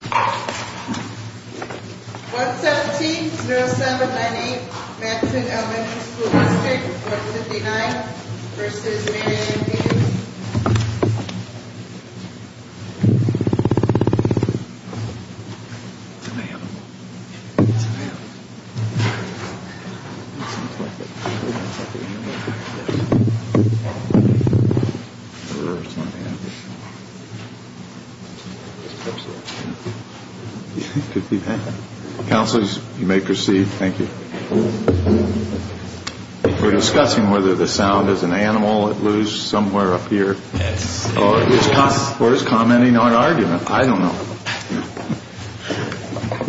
117-0798 Matteson Elementary School District 159 v. Maynard & Payton Councilors, you may proceed. Thank you. We're discussing whether the sound is an animal at loose somewhere up here or is commenting on argument. I don't know.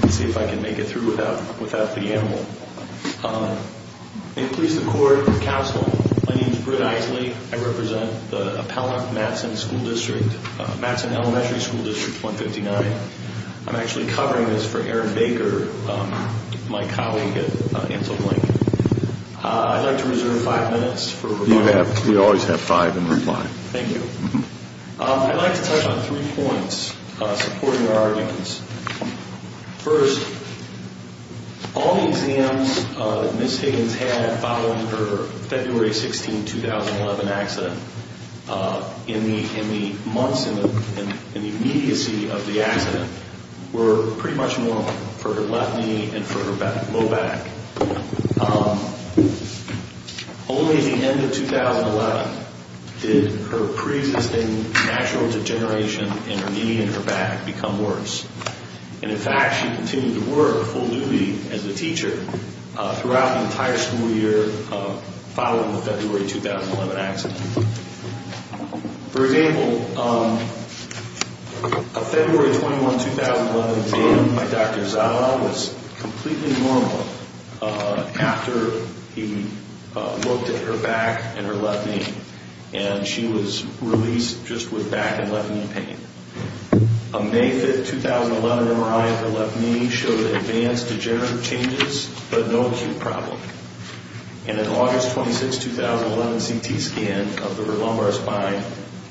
Let's see if I can make it through without the animal. May it please the Court, Council, my name is Britt Isley. I represent the Appellant, Matteson School District, Matteson Elementary School District 159. I'm actually covering this for Aaron Baker, my colleague at Ansel Blank. I'd like to reserve five minutes for rebuttal. You always have five in reply. Thank you. I'd like to touch on three points supporting your arguments. First, all the exams that Ms. Higgins had following her February 16, 2011 accident, in the months, in the immediacy of the accident, were pretty much normal for her left knee and for her low back. Only at the end of 2011 did her pre-existing natural degeneration in her knee and her back become worse. And in fact, she continued to work full duty as a teacher throughout the entire school year following the February 2011 accident. For example, a February 21, 2011 exam by Dr. Zavala was completely normal after he looked at her back and her left knee, and she was released just with back and left knee pain. A May 5, 2011 MRI of the left knee showed advanced degenerative changes, but no acute problem. And an August 26, 2011 CT scan of her lumbar spine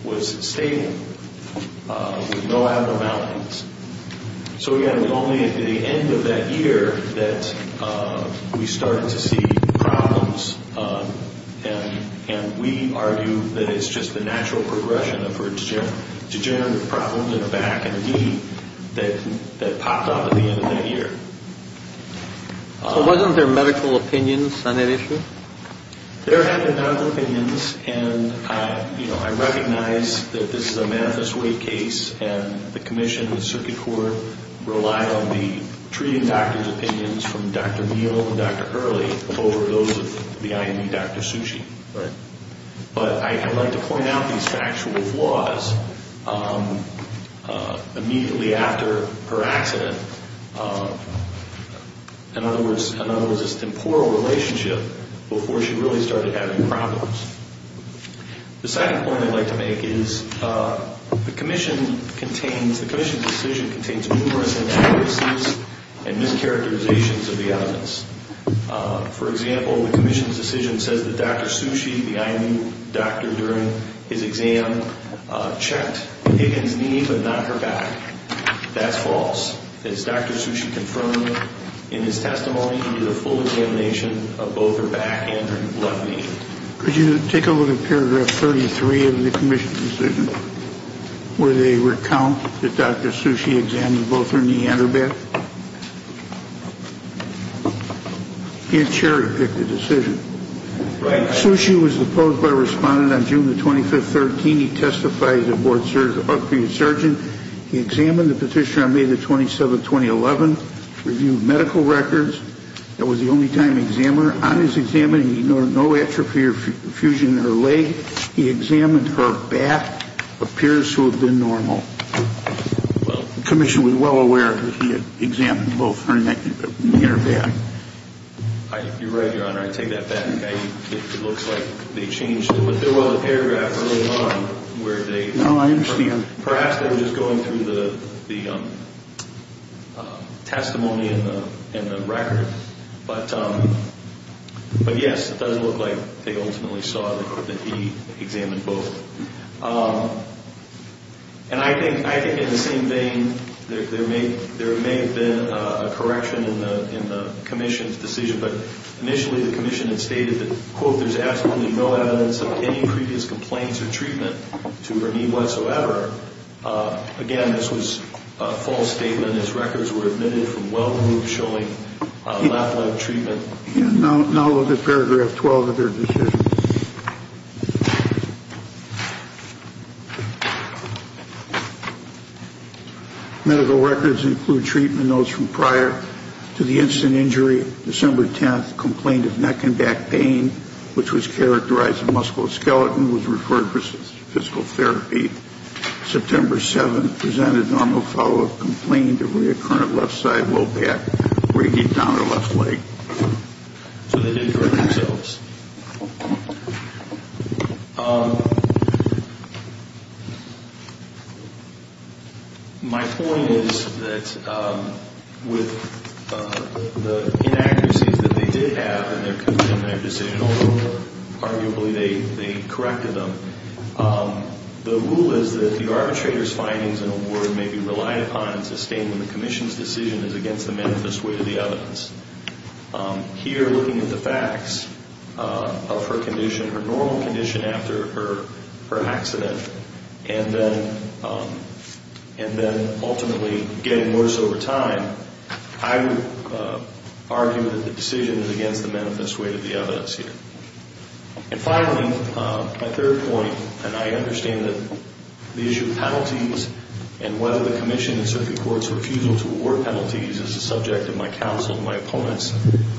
was stable, with no abnormalities. So again, it was only at the end of that year that we started to see problems, and we argue that it's just the natural progression of her degenerative problems in her back and knee that popped up at the end of that year. So wasn't there medical opinions on that issue? There had been medical opinions, and I recognize that this is a manifest way case, and the commission and the circuit court relied on the treating doctor's opinions from Dr. Neal and Dr. Hurley over those of the IME Dr. Sushi. But I'd like to point out these factual flaws. Immediately after her accident, in other words, this temporal relationship before she really started having problems. The second point I'd like to make is the commission's decision contains numerous inaccuracies and mischaracterizations of the evidence. For example, the commission's decision says that Dr. Sushi, the IME doctor during his exam, checked Higgins' knee, but not her back. That's false. As Dr. Sushi confirmed in his testimony, he did a full examination of both her back and her left knee. Could you take a look at paragraph 33 of the commission's decision, where they recount that Dr. Sushi examined both her knee and her back? Here, Cherry picked the decision. Sushi was opposed by a respondent on June the 25th, 2013. He testified as a board-certified surgeon. He examined the petitioner on May the 27th, 2011. Reviewed medical records. That was the only time examined her. On his examination, he noted no atrophy or fusion in her leg. He examined her back. Appears to have been normal. The commission was well aware that he had examined both her knee and her back. You're right, Your Honor. I take that back. It looks like they changed it. But there was a paragraph early on where they... No, I understand. Perhaps they were just going through the testimony in the record. But, yes, it does look like they ultimately saw that he examined both. And I think in the same vein, there may have been a correction in the commission's decision. But initially, the commission had stated that, quote, there's absolutely no evidence of any previous complaints or treatment to her knee whatsoever. Again, this was a false statement. Its records were admitted from well removed, showing left leg treatment. And now look at paragraph 12 of their decision. Medical records include treatment notes from prior to the instant injury. December 10th, complaint of neck and back pain, which was characterized as musculoskeletal, was referred for physical therapy. September 7th, presented normal follow-up complaint of reoccurring left side low back, breaking down her left leg. So they didn't correct themselves. My point is that with the inaccuracies that they did have in their decision, although arguably they corrected them, the rule is that the arbitrator's findings and award may be relied upon and sustained when the commission's decision is against the manifest weight of the evidence. Here, looking at the facts of her condition, her normal condition after her accident, and then ultimately getting worse over time, I would argue that the decision is against the manifest weight of the evidence here. And finally, my third point, and I understand that the issue of penalties and whether the commission in certain courts' refusal to award penalties is a subject of my counsel and my opponent's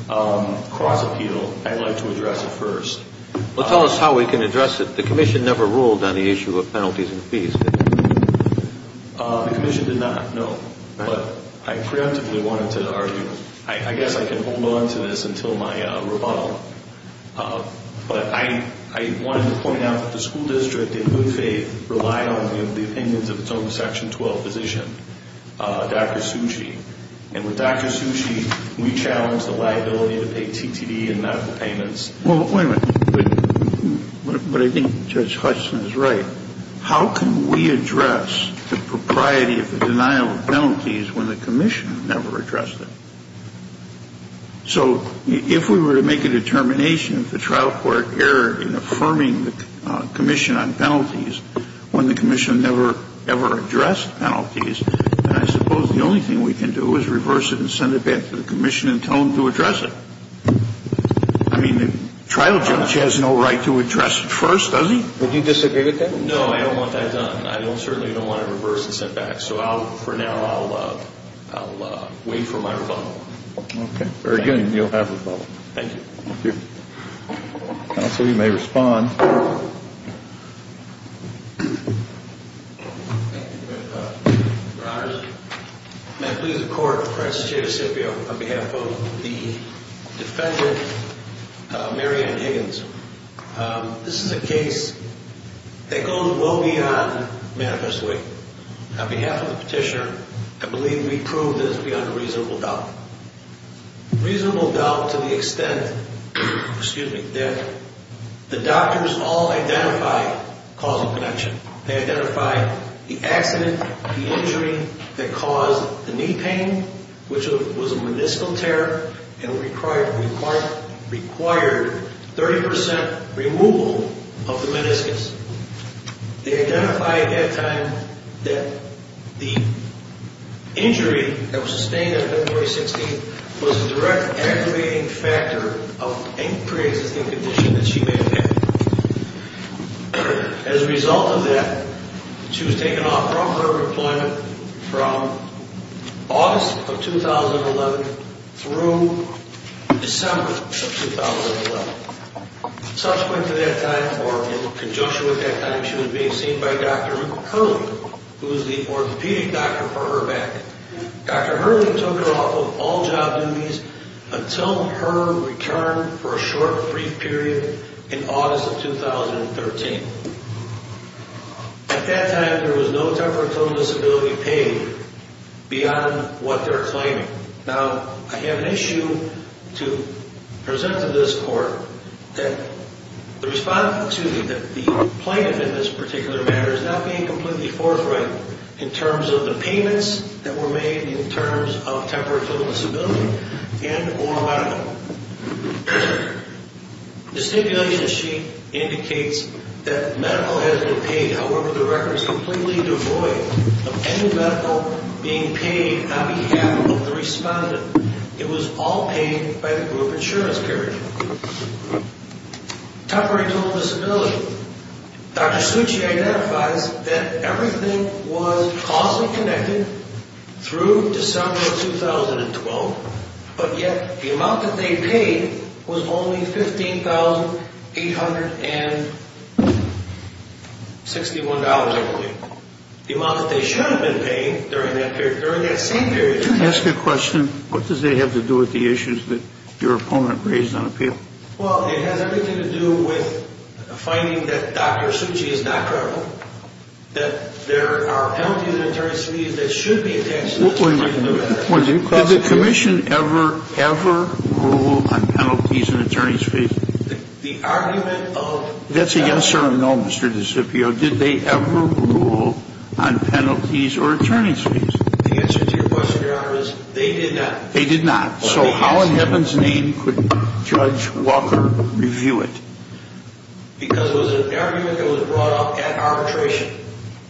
cross-appeal, I'd like to address it first. Well, tell us how we can address it. The commission never ruled on the issue of penalties and fees. The commission did not, no. But I preemptively wanted to argue, I guess I can hold on to this until my rebuttal, but I wanted to point out that the school district, in good faith, relied on the opinions of its own Section 12 physician, Dr. Tsuji, and with Dr. Tsuji, we challenged the liability to pay TTD and not the payments. Well, wait a minute. But I think Judge Hutchison is right. How can we address the propriety of the denial of penalties when the commission never addressed it? So if we were to make a determination of the trial court error in affirming the commission on penalties when the commission never, ever addressed penalties, then I suppose the only thing we can do is reverse it and send it back to the commission and tell them to address it. I mean, the trial judge has no right to address it first, does he? Would you disagree with that? No, I don't want that done. I certainly don't want it reversed and sent back. So for now, I'll wait for my rebuttal. Okay, very good. And you'll have rebuttal. Thank you. Thank you. Counsel, you may respond. Your Honors, may I please the court, the President of the State of Mississippi, on behalf of the defendant, Mary Ann Higgins. This is a case that goes well beyond manifest way. On behalf of the petitioner, I believe we proved this beyond a reasonable doubt. Reasonable doubt to the extent, excuse me, that the doctors all identified causal connection. They identified the accident, the injury that caused the knee pain, which was a meniscal tear and required 30% removal of the meniscus. They identified at that time that the injury that was sustained on February 16th was a direct activating factor of a pre-existing condition that she may have had. As a result of that, she was taken off from her employment from August of 2011 through December of 2011. Subsequent to that time, or in conjunction with that time, she was being seen by Dr. Hurley, who was the orthopedic doctor for her back. Dr. Hurley took her off of all job duties until her return for a short brief period in August of 2013. At that time, there was no temporary total disability paid beyond what they're claiming. Now, I have an issue to present to this court that the response, excuse me, that the plaintiff in this particular matter is not being completely forthright in terms of the payments that were made in terms of temporary total disability and or not at all. The stipulation sheet indicates that medical has been paid. However, the record is completely devoid of any medical being paid on behalf of the respondent. It was all paid by the group insurance carrier. Temporary total disability. Dr. Suchi identifies that everything was causally connected through December of 2012, but yet the amount that they paid was only $15,861, I believe. The amount that they should have been paying during that period, during that same period. Can I ask you a question? What does that have to do with the issues that your opponent raised on appeal? Well, it has everything to do with finding that Dr. Suchi is not credible, that there are penalties and attorneys to be used that should be attached to this. Wait a minute. Did the commission ever, ever rule on penalties and attorneys fees? The argument of... That's a yes or a no, Mr. DeCipio. Did they ever rule on penalties or attorneys fees? The answer to your question, Your Honor, is they did not. They did not. So how in heaven's name could Judge Walker review it? Because it was an argument that was brought up at arbitration.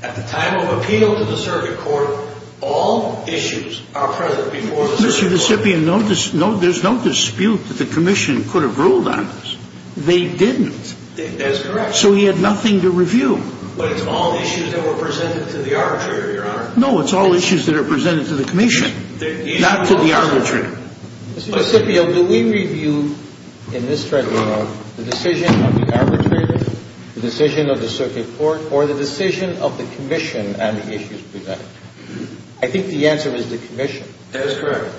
At the time of appeal to the circuit court, all issues are present before the circuit court. Mr. DeCipio, there's no dispute that the commission could have ruled on this. They didn't. That's correct. So he had nothing to review. But it's all issues that were presented to the arbitrator, Your Honor. No, it's all issues that are presented to the commission, not to the arbitrator. Mr. DeCipio, do we review in this tribunal the decision of the arbitrator, the decision of the circuit court, or the decision of the commission on the issues presented? I think the answer is the commission. That is correct.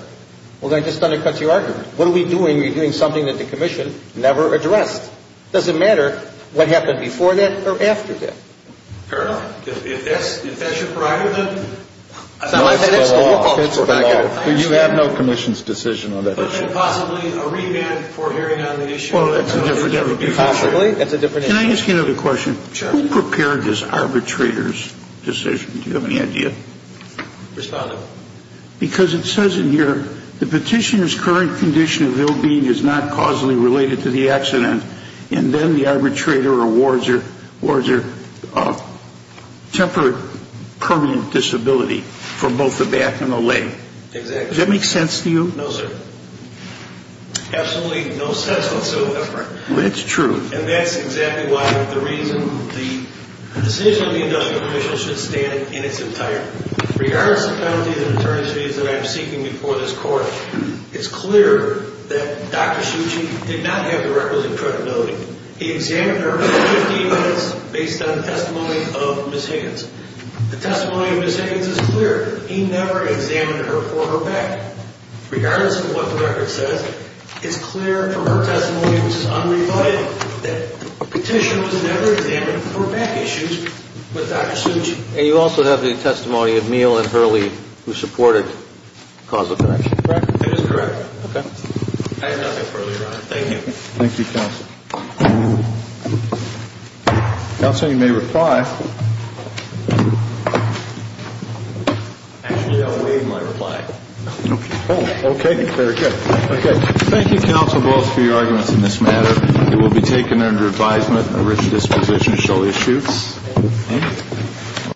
Well, then I just undercut your argument. What are we doing? We're doing something that the commission never addressed. It doesn't matter what happened before that or after that. Fair enough. If that's your prerogative, then... No, it's the law. It's the law. You have no commission's decision on that issue. But is it possibly a remand for hearing on the issue? Possibly. That's a different issue. Can I ask you another question? Sure. Who prepared this arbitrator's decision? Do you have any idea? Respondent. Because it says in here, the petitioner's current condition of ill-being is not causally related to the accident, and then the arbitrator awards a temporary permanent disability for both the back and the leg. Exactly. Does that make sense to you? No, sir. Absolutely no sense whatsoever. That's true. And that's exactly why the reason why the decision of the industrial commission should stand in its entirety. Regardless of penalties and attorneys' fees that I'm seeking before this court, it's clear that Dr. Shucci did not have the records of credibility. He examined her for 15 minutes based on the testimony of Ms. Higgins. The testimony of Ms. Higgins is clear. He never examined her for her back. Regardless of what the record says, it's clear from her testimony, which is unrefined, that the petitioner was never examined for back issues with Dr. Shucci. And you also have the testimony of Neal and Hurley, who supported causal connection. Correct? It is correct. Okay. I have nothing further to add. Thank you. Thank you, counsel. Counsel, you may reply. Actually, I'll waive my reply. Okay. Okay. Very good. Okay. Thank you, counsel, both, for your arguments in this matter. It will be taken under advisement of the original disposition of Shelley Shutes. Okay.